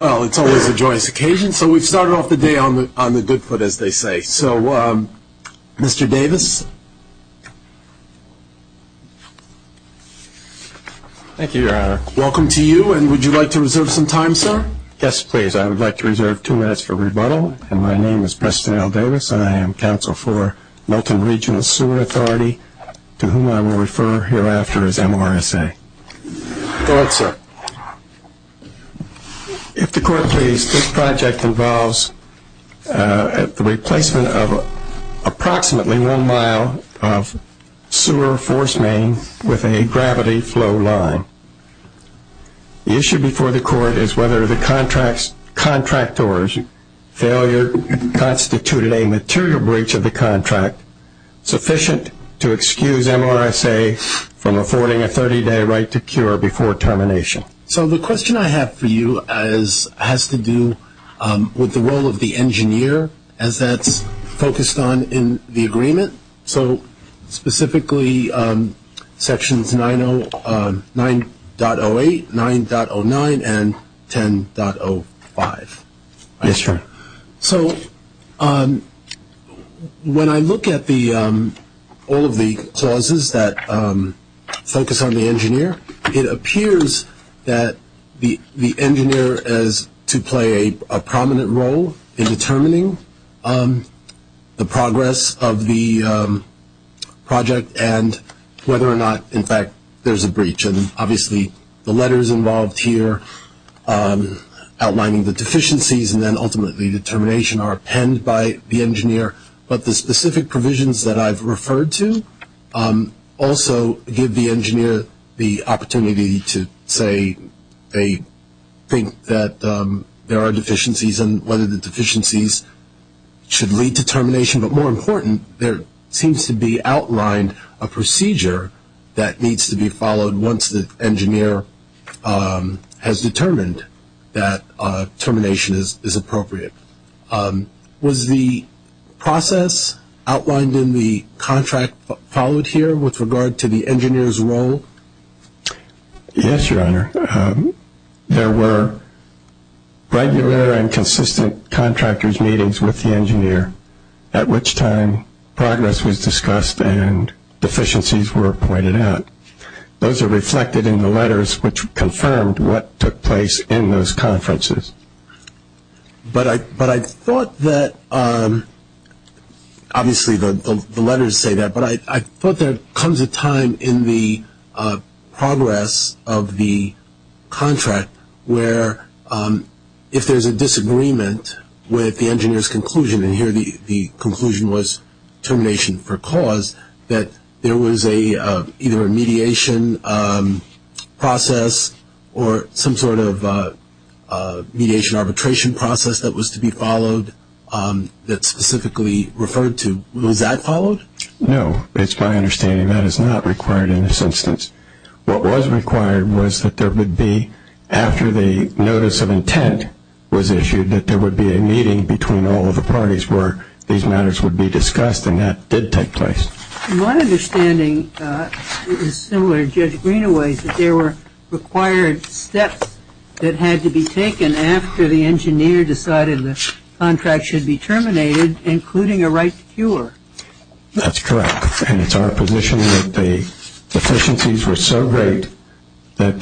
Well, it's always a joyous occasion, so we've started off the day on the good foot, as they say. So, Mr. Davis. Thank you, Your Honor. Welcome to you, and would you like to reserve some time, sir? Yes, please. I would like to reserve two minutes for rebuttal. My name is Preston L. Davis, and I am counsel for Milton Regional Sewer Authority, to whom I will refer hereafter as MRSA. Go ahead, sir. If the court please, this project involves the replacement of approximately one mile of sewer force main with a gravity flow line. The issue before the court is whether the contractor's failure constituted a material breach of the contract sufficient to excuse MRSA from affording a 30-day right to cure before termination. So, the question I have for you has to do with the role of the engineer, as that's focused on in the agreement. So, specifically sections 9.08, 9.09, and 10.05. Yes, sir. So, when I look at all of the clauses that focus on the engineer, it appears that the engineer is to play a prominent role in determining the progress of the project and whether or not, in fact, there's a breach. And obviously, the letters involved here outlining the deficiencies and then ultimately the termination are penned by the engineer. But the specific provisions that I've referred to also give the engineer the opportunity to say they think that there are deficiencies and whether the deficiencies should lead to termination. But more important, there seems to be outlined a procedure that needs to be followed once the engineer has determined that termination is appropriate. Was the process outlined in the contract followed here with regard to the engineer's role? Yes, Your Honor. There were regular and consistent contractor's meetings with the engineer. At which time, progress was discussed and deficiencies were pointed out. Those are reflected in the letters, which confirmed what took place in those conferences. But I thought that, obviously the letters say that, but I thought there comes a time in the progress of the contract where if there's a disagreement with the engineer's conclusion, and here the conclusion was termination for cause, that there was either a mediation process or some sort of mediation arbitration process that was to be followed that's specifically referred to. Was that followed? No. It's my understanding that is not required in this instance. What was required was that there would be, after the notice of intent was issued, that there would be a meeting between all of the parties where these matters would be discussed, and that did take place. My understanding is similar to Judge Greenaway's, that there were required steps that had to be taken after the engineer decided the contract should be terminated, including a right to cure. That's correct, and it's our position that the deficiencies were so great that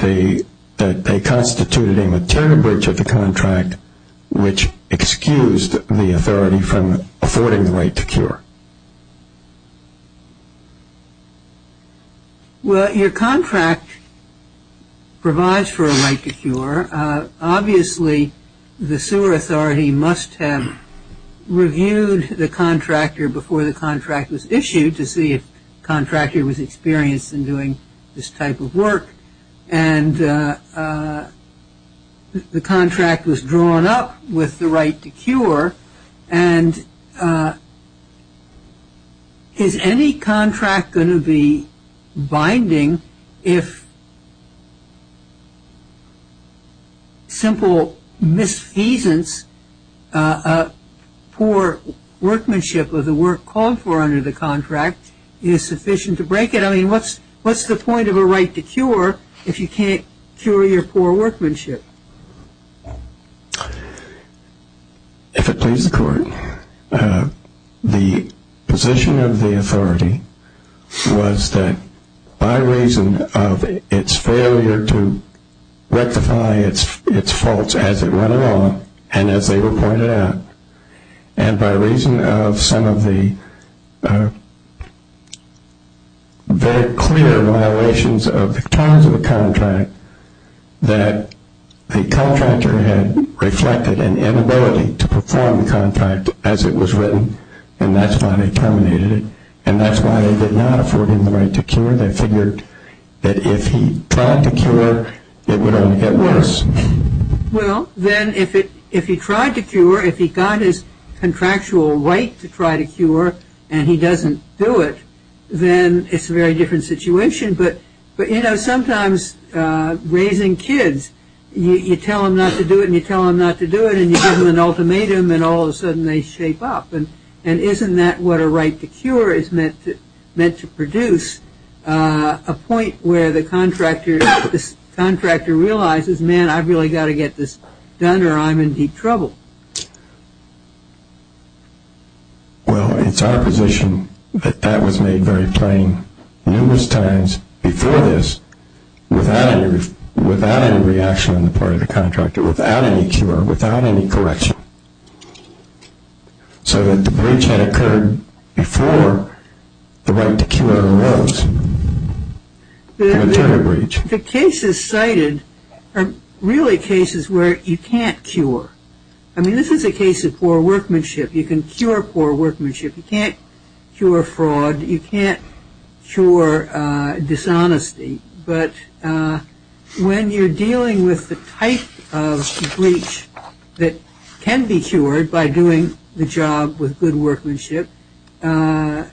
they constituted a material breach of the contract, which excused the authority from affording the right to cure. Well, your contract provides for a right to cure. Obviously, the sewer authority must have reviewed the contractor before the contract was issued to see if the contractor was experienced in doing this type of work, and the contract was drawn up with the right to cure, and is any contract going to be binding if simple misfeasance, a poor workmanship of the work called for under the contract is sufficient to break it? I mean, what's the point of a right to cure if you can't cure your poor workmanship? If it pleases the Court, the position of the authority was that by reason of its failure to rectify its faults as it went along, and as they were pointed out, and by reason of some of the very clear violations of the terms of the contract, that the contractor had reflected an inability to perform the contract as it was written, and that's why they terminated it, and that's why they did not afford him the right to cure. They figured that if he tried to cure, it would only get worse. Well, then if he tried to cure, if he got his contractual right to try to cure, and he doesn't do it, then it's a very different situation, but, you know, sometimes raising kids, you tell them not to do it, and you tell them not to do it, and you give them an ultimatum, and all of a sudden they shape up, and isn't that what a right to cure is meant to produce? A point where the contractor realizes, man, I've really got to get this done or I'm in deep trouble. Well, it's our position that that was made very plain numerous times before this, without any reaction on the part of the contractor, without any cure, without any correction, so that the breach had occurred before the right to cure arose. The cases cited are really cases where you can't cure. I mean, this is a case of poor workmanship. You can cure poor workmanship. You can't cure fraud. You can't cure dishonesty, but when you're dealing with the type of breach that can be cured by doing the job with good workmanship, I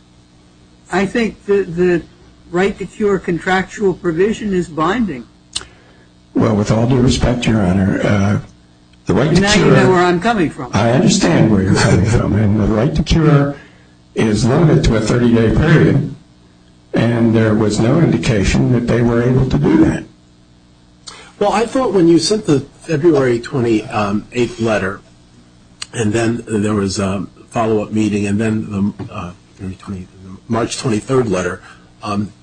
think the right to cure contractual provision is binding. Well, with all due respect, Your Honor, the right to cure – Now you know where I'm coming from. I understand where you're coming from, and the right to cure is limited to a 30-day period, and there was no indication that they were able to do that. Well, I thought when you sent the February 28th letter, and then there was a follow-up meeting and then the March 23rd letter,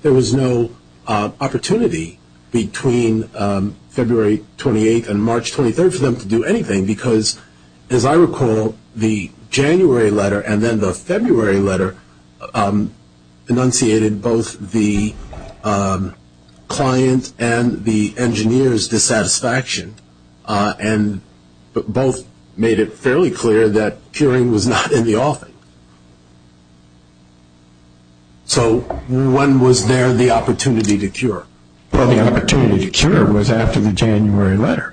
there was no opportunity between February 28th and March 23rd for them to do anything, because, as I recall, the January letter and then the February letter enunciated both the client and the engineer's dissatisfaction, and both made it fairly clear that curing was not in the offing. So when was there the opportunity to cure? Well, the opportunity to cure was after the January letter.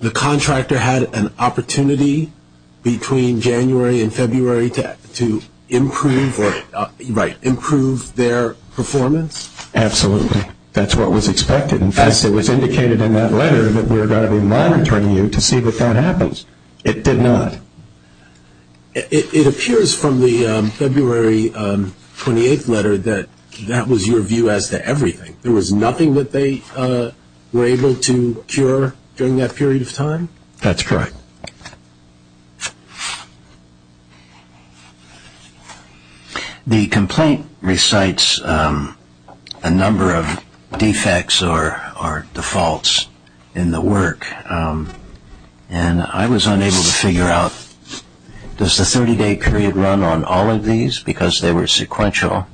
The contractor had an opportunity between January and February to improve their performance? Absolutely. That's what was expected. In fact, it was indicated in that letter that we were going to be monitoring you to see if that happens. It did not. It appears from the February 28th letter that that was your view as to everything. There was nothing that they were able to cure during that period of time? That's correct. The complaint recites a number of defects or defaults in the work, and I was unable to figure out, does the 30-day period run on all of these because they were sequential,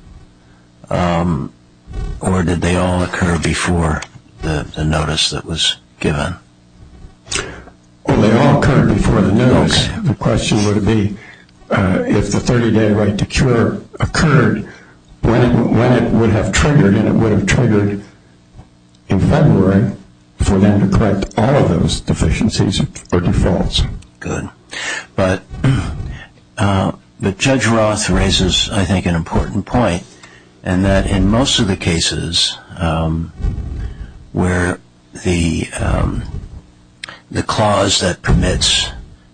or did they all occur before the notice that was given? Well, they all occurred before the notice. The question would be if the 30-day right to cure occurred, when it would have triggered, and it would have triggered in February for them to correct all of those deficiencies or defaults. Good. But Judge Roth raises, I think, an important point, and that in most of the cases where the clause that permits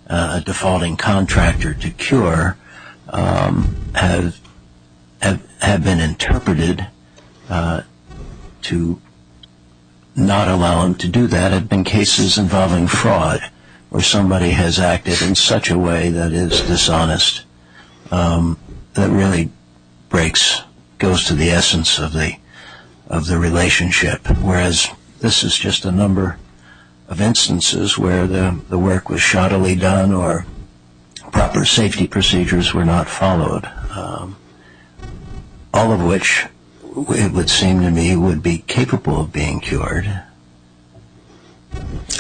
a defaulting contractor to cure has been interpreted to not allow them to do that, there have been cases involving fraud where somebody has acted in such a way that is dishonest that really goes to the essence of the relationship, whereas this is just a number of instances where the work was shoddily done or proper safety procedures were not followed, all of which, it would seem to me, would be capable of being cured. If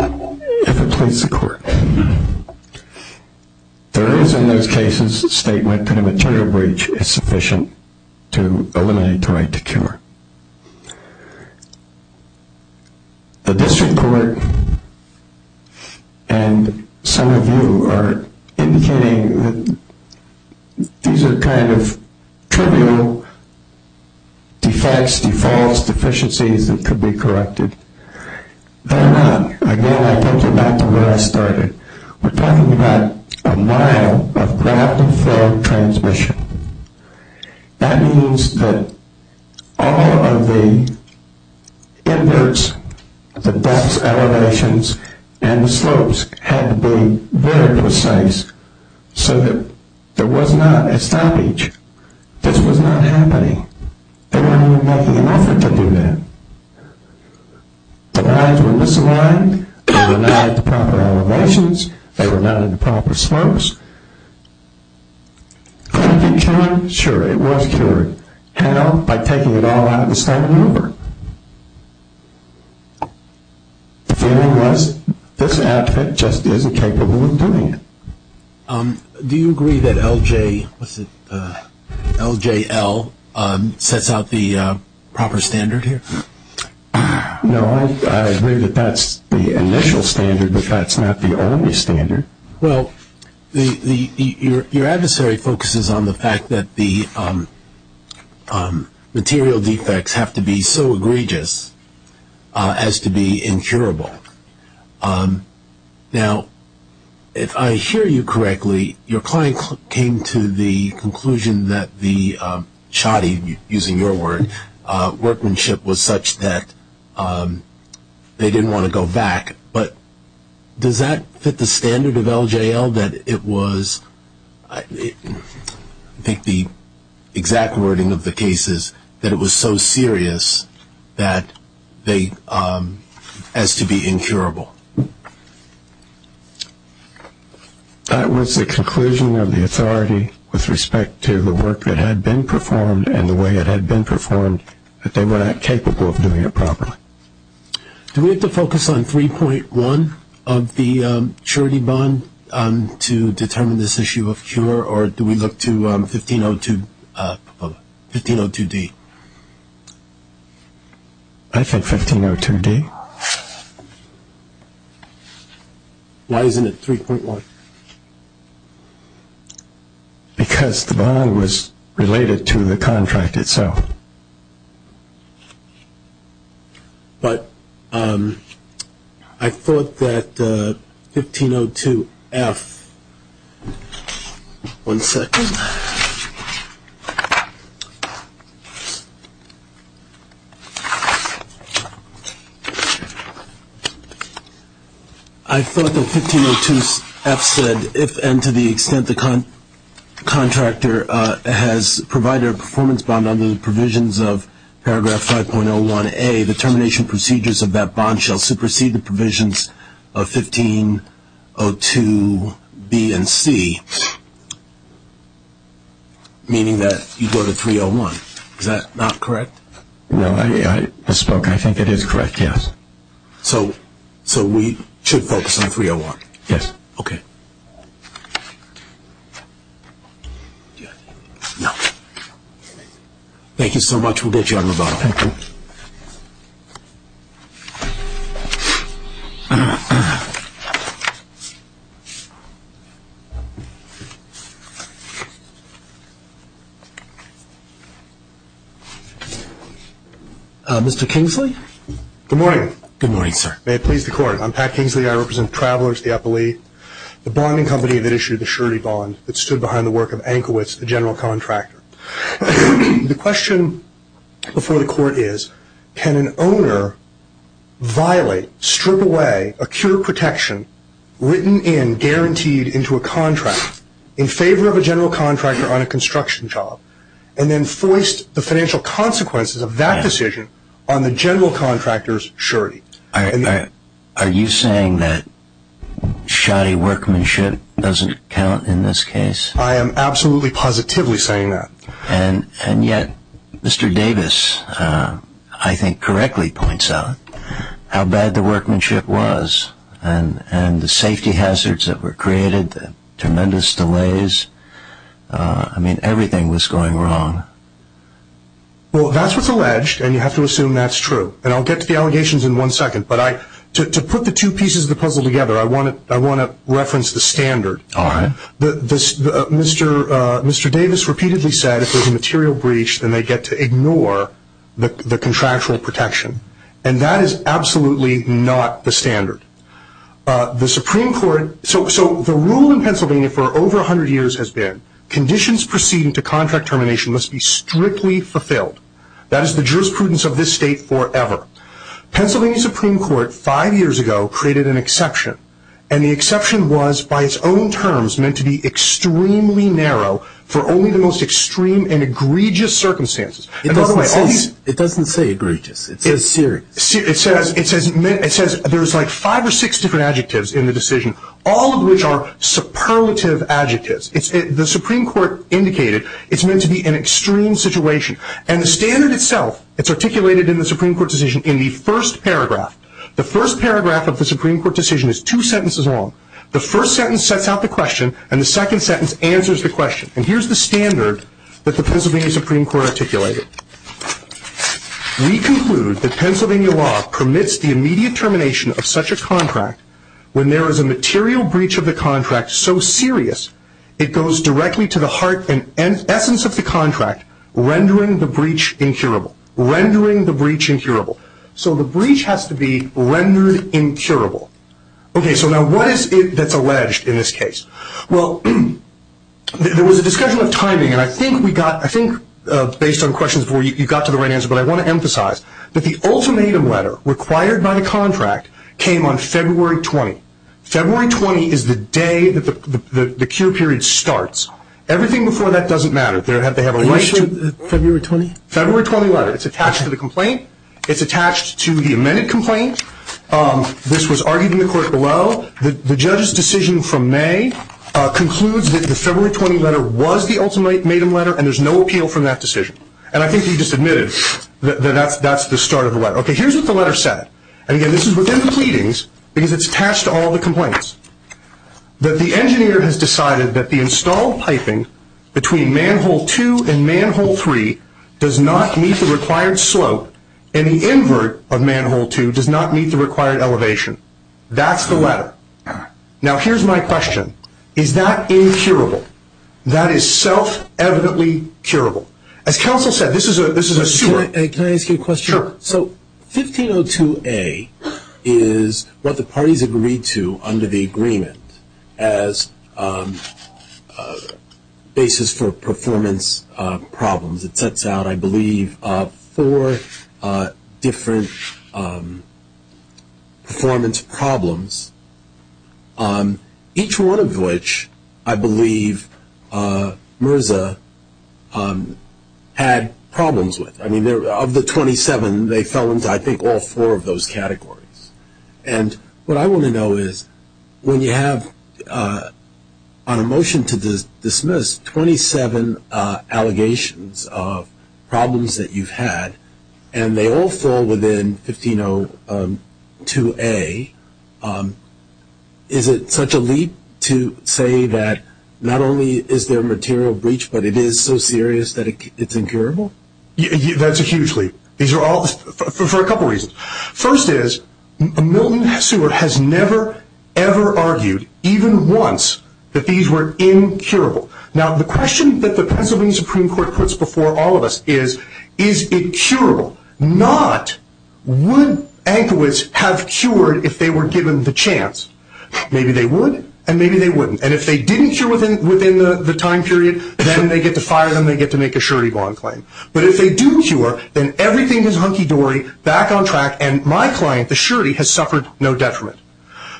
it pleases the Court, there is in those cases a statement that a material breach is sufficient to eliminate the right to cure. The District Court and some of you are indicating that these are kind of trivial defects, defaults, deficiencies that could be corrected. They're not. Again, I point you back to where I started. We're talking about a mile of ground-to-floor transmission. That means that all of the inverts, the depths, elevations, and the slopes had to be very precise so that there was not a stoppage. This was not happening. They weren't even making an effort to do that. The lines were misaligned. They were not at the proper elevations. They were not at the proper slopes. Could it be cured? Sure, it was cured. How? By taking it all out of the stomach and over. The feeling was this outfit just isn't capable of doing it. Do you agree that LJL sets out the proper standard here? No, I agree that that's the initial standard, but that's not the only standard. Well, your adversary focuses on the fact that the material defects have to be so egregious as to be incurable. Now, if I hear you correctly, your client came to the conclusion that the shoddy, using your word, workmanship was such that they didn't want to go back. But does that fit the standard of LJL that it was, I think the exact wording of the case is, that it was so serious as to be incurable? That was the conclusion of the authority with respect to the work that had been performed and the way it had been performed, that they were not capable of doing it properly. Do we have to focus on 3.1 of the surety bond to determine this issue of cure, or do we look to 1502D? I think 1502D. Why isn't it 3.1? Because the bond was related to the contract itself. But I thought that 1502F. One second. One second. I thought that 1502F said, if and to the extent the contractor has provided a performance bond under the provisions of paragraph 5.01A, the termination procedures of that bond shall supersede the provisions of 1502B and C, meaning that you go to 3.01. Is that not correct? No, I think it is correct, yes. So we should focus on 3.01? Yes. Okay. Thank you so much. We'll get you out of the bottle. Thank you. Mr. Kingsley? Good morning. Good morning, sir. May it please the Court. I'm Pat Kingsley. I represent Travelers, the epilee, the bonding company that issued the surety bond that stood behind the work of Ankowitz, the general contractor. The question before the Court is, can an owner violate, strip away, a cure protection written in, guaranteed into a contract, in favor of a general contractor on a construction job, and then foist the financial consequences of that decision on the general contractor's surety? Are you saying that shoddy workmanship doesn't count in this case? I am absolutely positively saying that. And yet Mr. Davis, I think, correctly points out how bad the workmanship was and the safety hazards that were created, the tremendous delays. I mean, everything was going wrong. Well, that's what's alleged, and you have to assume that's true. And I'll get to the allegations in one second. But to put the two pieces of the puzzle together, I want to reference the standard. All right. Mr. Davis repeatedly said if there's a material breach, then they get to ignore the contractual protection. And that is absolutely not the standard. So the rule in Pennsylvania for over 100 years has been, conditions proceeding to contract termination must be strictly fulfilled. That is the jurisprudence of this state forever. Pennsylvania Supreme Court, five years ago, created an exception. And the exception was, by its own terms, meant to be extremely narrow for only the most extreme and egregious circumstances. It doesn't say egregious. It says serious. It says there's like five or six different adjectives in the decision, all of which are superlative adjectives. The Supreme Court indicated it's meant to be an extreme situation. And the standard itself, it's articulated in the Supreme Court decision in the first paragraph. The first paragraph of the Supreme Court decision is two sentences long. The first sentence sets out the question, and the second sentence answers the question. And here's the standard that the Pennsylvania Supreme Court articulated. We conclude that Pennsylvania law permits the immediate termination of such a contract when there is a material breach of the contract so serious, it goes directly to the heart and essence of the contract, rendering the breach incurable. Rendering the breach incurable. So the breach has to be rendered incurable. Okay, so now what is it that's alleged in this case? Well, there was a discussion of timing, and I think we got, I think, based on questions before you, you got to the right answer, but I want to emphasize that the ultimatum letter required by the contract came on February 20. February 20 is the day that the cure period starts. Everything before that doesn't matter. They have a right to. February 20? February 20 letter. It's attached to the complaint. It's attached to the amended complaint. This was argued in the court below. The judge's decision from May concludes that the February 20 letter was the ultimatum letter, and there's no appeal from that decision. And I think you just admitted that that's the start of the letter. Okay, here's what the letter said, and, again, this is within the pleadings because it's attached to all the complaints, that the engineer has decided that the installed piping between manhole two and manhole three does not meet the required slope, and the invert of manhole two does not meet the required elevation. That's the letter. Now, here's my question. Is that incurable? That is self-evidently curable. As counsel said, this is a sewer. Can I ask you a question? Sure. So 1502A is what the parties agreed to under the agreement as basis for performance problems. It sets out, I believe, four different performance problems, each one of which I believe MRSA had problems with. I mean, of the 27, they fell into, I think, all four of those categories. And what I want to know is when you have, on a motion to dismiss, 27 allegations of problems that you've had, and they all fall within 1502A, is it such a leap to say that not only is there material breach, but it is so serious that it's incurable? That's a huge leap, for a couple reasons. First is Milton Seward has never, ever argued, even once, that these were incurable. Now, the question that the Pennsylvania Supreme Court puts before all of us is, is it curable? Not, would anchoids have cured if they were given the chance? Maybe they would, and maybe they wouldn't. And if they didn't cure within the time period, then they get to fire them, they get to make a surety bond claim. But if they do cure, then everything is hunky-dory, back on track, and my client, the surety, has suffered no detriment.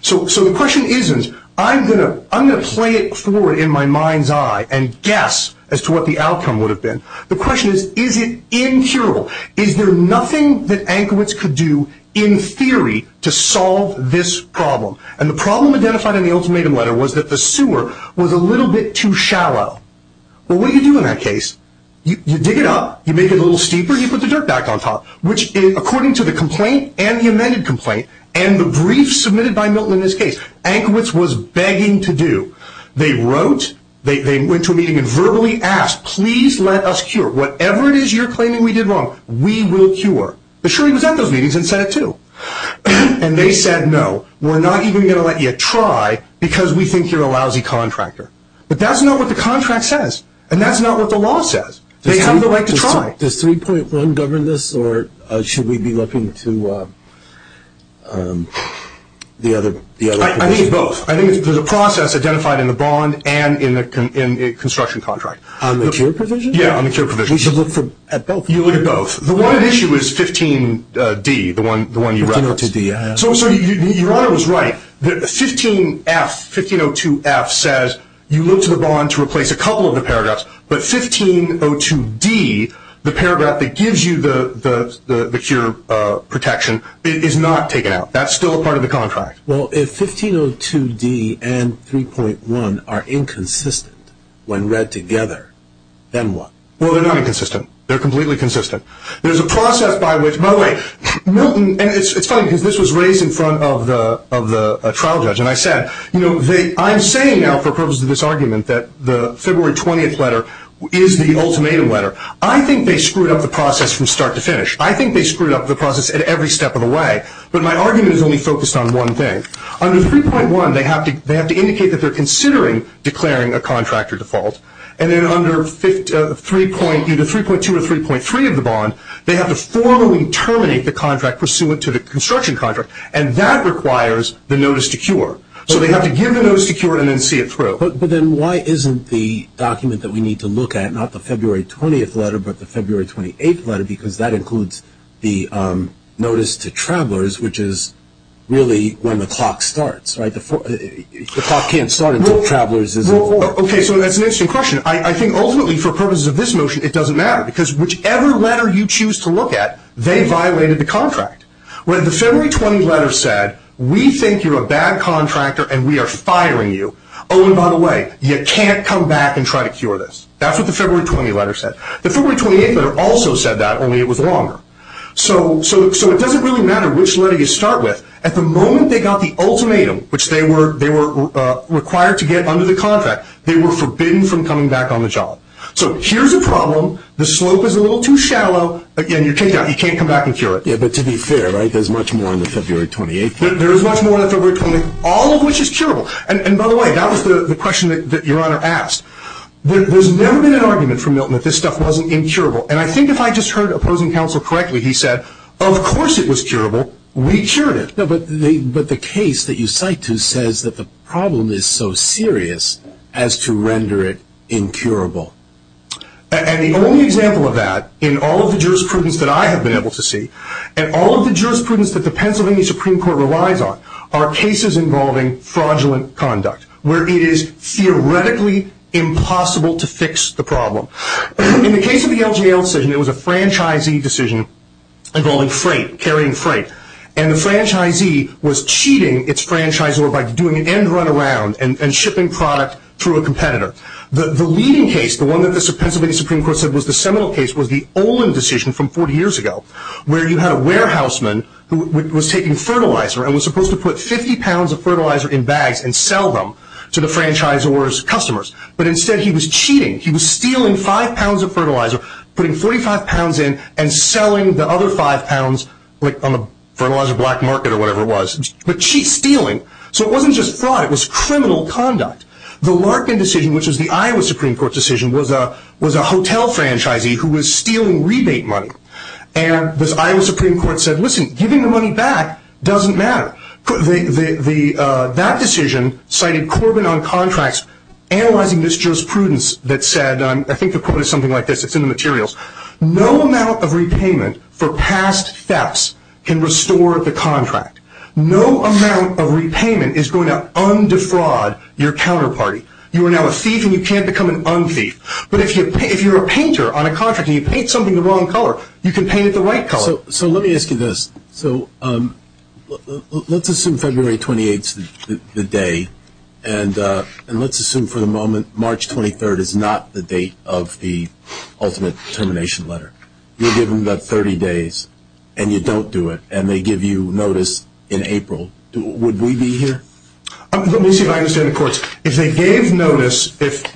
So the question isn't, I'm going to play it forward in my mind's eye and guess as to what the outcome would have been. The question is, is it incurable? Is there nothing that anchoids could do, in theory, to solve this problem? And the problem identified in the ultimatum letter was that the sewer was a little bit too shallow. Well, what do you do in that case? You dig it up, you make it a little steeper, you put the dirt back on top. Which, according to the complaint and the amended complaint, and the brief submitted by Milton in this case, anchoids was begging to do. They wrote, they went to a meeting and verbally asked, please let us cure, whatever it is you're claiming we did wrong, we will cure. The surety was at those meetings and said it too. And they said, no, we're not even going to let you try because we think you're a lousy contractor. But that's not what the contract says, and that's not what the law says. They have the right to try. Does 3.1 govern this, or should we be looking to the other provision? I think both. I think there's a process identified in the bond and in the construction contract. On the cure provision? Yeah, on the cure provision. We should look at both. You look at both. The one issue is 15D, the one you referenced. So you're right, 15F, 1502F says you look to the bond to replace a couple of the paragraphs, but 1502D, the paragraph that gives you the cure protection, is not taken out. That's still a part of the contract. Well, if 1502D and 3.1 are inconsistent when read together, then what? Well, they're not inconsistent. They're completely consistent. There's a process by which, by the way, Milton, and it's funny because this was raised in front of the trial judge, and I said, you know, I'm saying now for purposes of this argument that the February 20th letter is the ultimatum letter. I think they screwed up the process from start to finish. I think they screwed up the process at every step of the way. But my argument is only focused on one thing. Under 3.1, they have to indicate that they're considering declaring a contractor default, and then under 3.2 or 3.3 of the bond, they have to formally terminate the contract pursuant to the construction contract, and that requires the notice to cure. So they have to give the notice to cure and then see it through. But then why isn't the document that we need to look at, not the February 20th letter, but the February 28th letter, because that includes the notice to travelers, which is really when the clock starts, right? The clock can't start until travelers is informed. Okay, so that's an interesting question. I think ultimately for purposes of this motion, it doesn't matter, because whichever letter you choose to look at, they violated the contract. The February 20th letter said, we think you're a bad contractor and we are firing you. Oh, and by the way, you can't come back and try to cure this. That's what the February 20th letter said. The February 28th letter also said that, only it was longer. So it doesn't really matter which letter you start with. At the moment they got the ultimatum, which they were required to get under the contract, they were forbidden from coming back on the job. So here's a problem. The slope is a little too shallow. Again, you're kicked out. You can't come back and cure it. Yeah, but to be fair, right, there's much more on the February 28th. There is much more on the February 28th, all of which is curable. And by the way, that was the question that Your Honor asked. There's never been an argument from Milton that this stuff wasn't incurable. And I think if I just heard opposing counsel correctly, he said, of course it was curable. We cured it. No, but the case that you cite to says that the problem is so serious as to render it incurable. And the only example of that in all of the jurisprudence that I have been able to see and all of the jurisprudence that the Pennsylvania Supreme Court relies on are cases involving fraudulent conduct, where it is theoretically impossible to fix the problem. In the case of the LGL decision, it was a franchisee decision involving freight, carrying freight. And the franchisee was cheating its franchisor by doing an end run around and shipping product through a competitor. The leading case, the one that the Pennsylvania Supreme Court said was the seminal case, was the Olin decision from 40 years ago, where you had a warehouseman who was taking fertilizer and was supposed to put 50 pounds of fertilizer in bags and sell them to the franchisor's customers. But instead he was cheating. He was stealing 5 pounds of fertilizer, putting 45 pounds in, and selling the other 5 pounds on the fertilizer black market or whatever it was. But cheating, stealing. So it wasn't just fraud, it was criminal conduct. The Larkin decision, which was the Iowa Supreme Court decision, was a hotel franchisee who was stealing rebate money. And the Iowa Supreme Court said, listen, giving the money back doesn't matter. That decision cited Corbin on contracts analyzing this jurisprudence that said, I think the quote is something like this, it's in the materials, no amount of repayment for past thefts can restore the contract. No amount of repayment is going to undefraud your counterparty. You are now a thief and you can't become an un-thief. But if you're a painter on a contract and you paint something the wrong color, you can paint it the right color. So let me ask you this. So let's assume February 28th is the day, and let's assume for the moment March 23rd is not the date of the ultimate termination letter. You're given about 30 days, and you don't do it, and they give you notice in April. Would we be here? Let me see if I understand the courts. If they gave notice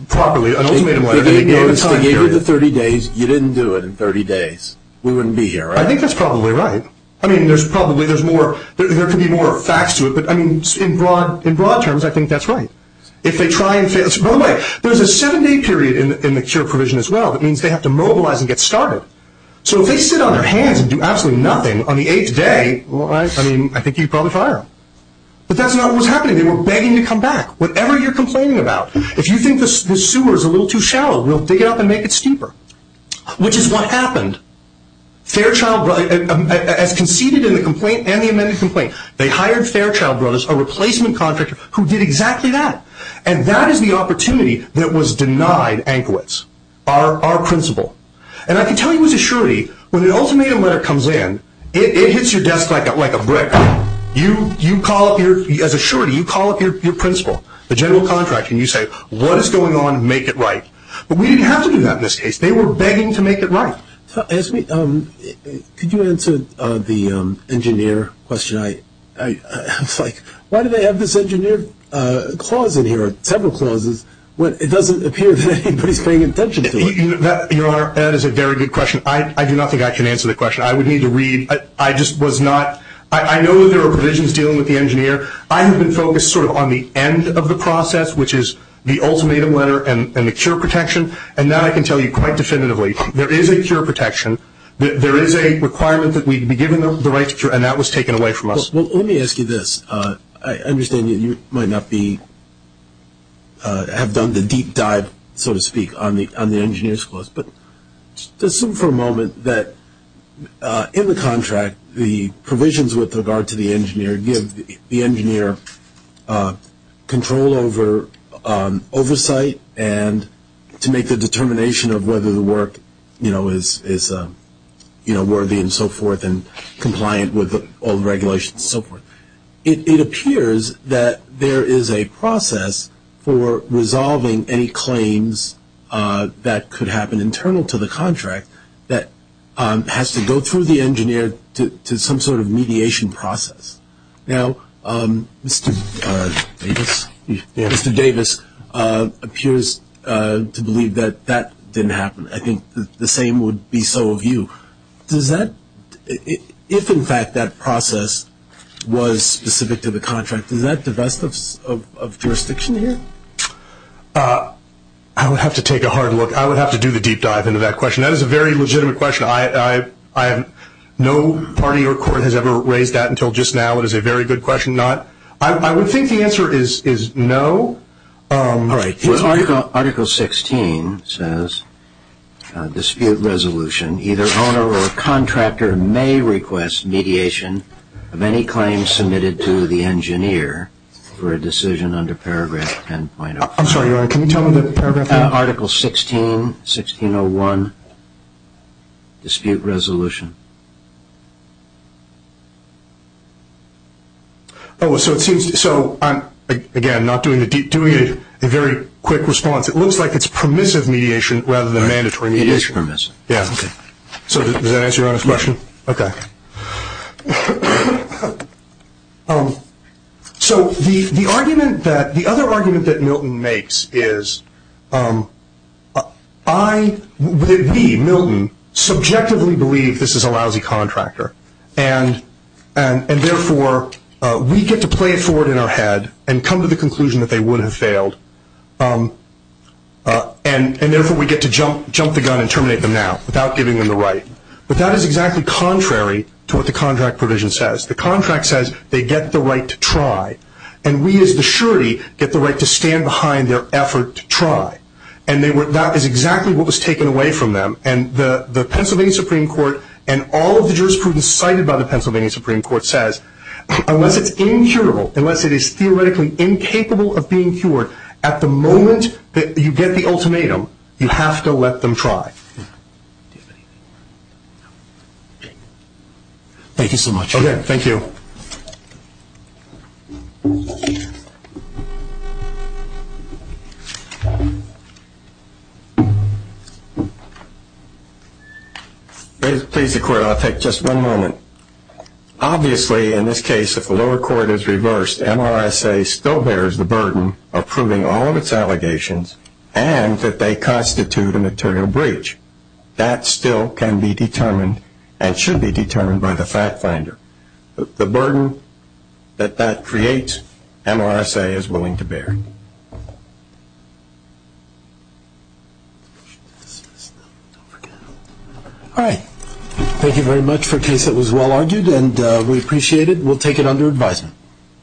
properly, an ultimatum letter, and they gave a time period. They gave you the 30 days, you didn't do it in 30 days, we wouldn't be here, right? I think that's probably right. I mean, there could be more facts to it, but in broad terms, I think that's right. By the way, there's a seven-day period in the cure provision as well, that means they have to mobilize and get started. So if they sit on their hands and do absolutely nothing on the eighth day, I think you'd probably fire them. But that's not what was happening. They were begging you to come back, whatever you're complaining about. If you think the sewer is a little too shallow, we'll dig it up and make it steeper. Which is what happened. Fairchild Brothers, as conceded in the complaint and the amended complaint, they hired Fairchild Brothers, a replacement contractor, who did exactly that. And that is the opportunity that was denied Ankowitz, our principal. And I can tell you as a surety, when an ultimatum letter comes in, it hits your desk like a brick. As a surety, you call up your principal, the general contractor, and you say, what is going on, make it right. But we didn't have to do that in this case. They were begging to make it right. Could you answer the engineer question? It's like, why do they have this engineer clause in here, several clauses, when it doesn't appear that anybody is paying attention to it? Your Honor, that is a very good question. I do not think I can answer the question. I would need to read. I just was not – I know there are provisions dealing with the engineer. I have been focused sort of on the end of the process, which is the ultimatum letter and the cure protection. And that I can tell you quite definitively. There is a cure protection. There is a requirement that we be given the right to cure, and that was taken away from us. Well, let me ask you this. I understand that you might not be – have done the deep dive, so to speak, on the engineer's clause. But assume for a moment that in the contract, the provisions with regard to the engineer give the engineer control over oversight and to make the determination of whether the work is worthy and so forth and compliant with all the regulations and so forth. It appears that there is a process for resolving any claims that could happen internal to the contract that has to go through the engineer to some sort of mediation process. Now, Mr. Davis appears to believe that that didn't happen. I think the same would be so of you. Does that – if, in fact, that process was specific to the contract, is that the best of jurisdiction here? I would have to take a hard look. I would have to do the deep dive into that question. That is a very legitimate question. No party or court has ever raised that until just now. It is a very good question. I would think the answer is no. All right. Article 16 says dispute resolution. Either owner or contractor may request mediation of any claims submitted to the engineer for a decision under paragraph 10.05. I'm sorry, Your Honor. Can you tell me the paragraph? Article 16, 16.01, dispute resolution. So, again, I'm not doing a deep dive. I'm doing a very quick response. It looks like it's permissive mediation rather than mandatory mediation. It is permissive. Does that answer Your Honor's question? Okay. So, the other argument that Milton makes is we, Milton, subjectively believe this is a lousy contractor, and therefore we get to play it forward in our head and come to the conclusion that they would have failed, and therefore we get to jump the gun and terminate them now without giving them the right. But that is exactly contrary to what the contract provision says. The contract says they get the right to try. And we, as the surety, get the right to stand behind their effort to try. And that is exactly what was taken away from them. And the Pennsylvania Supreme Court and all of the jurisprudence cited by the Pennsylvania Supreme Court says, unless it's incurable, unless it is theoretically incapable of being cured, at the moment that you get the ultimatum, you have to let them try. Do you have anything more? Thank you so much. Okay. Thank you. Please, the Court, I'll take just one moment. Obviously, in this case, if the lower court is reversed, MRSA still bears the burden of proving all of its allegations and that they constitute a material breach. That still can be determined and should be determined by the fact finder. The burden that that creates, MRSA is willing to bear. All right. Thank you very much for a case that was well argued, and we appreciate it. We'll take it under advisement. Thank you. Thank you.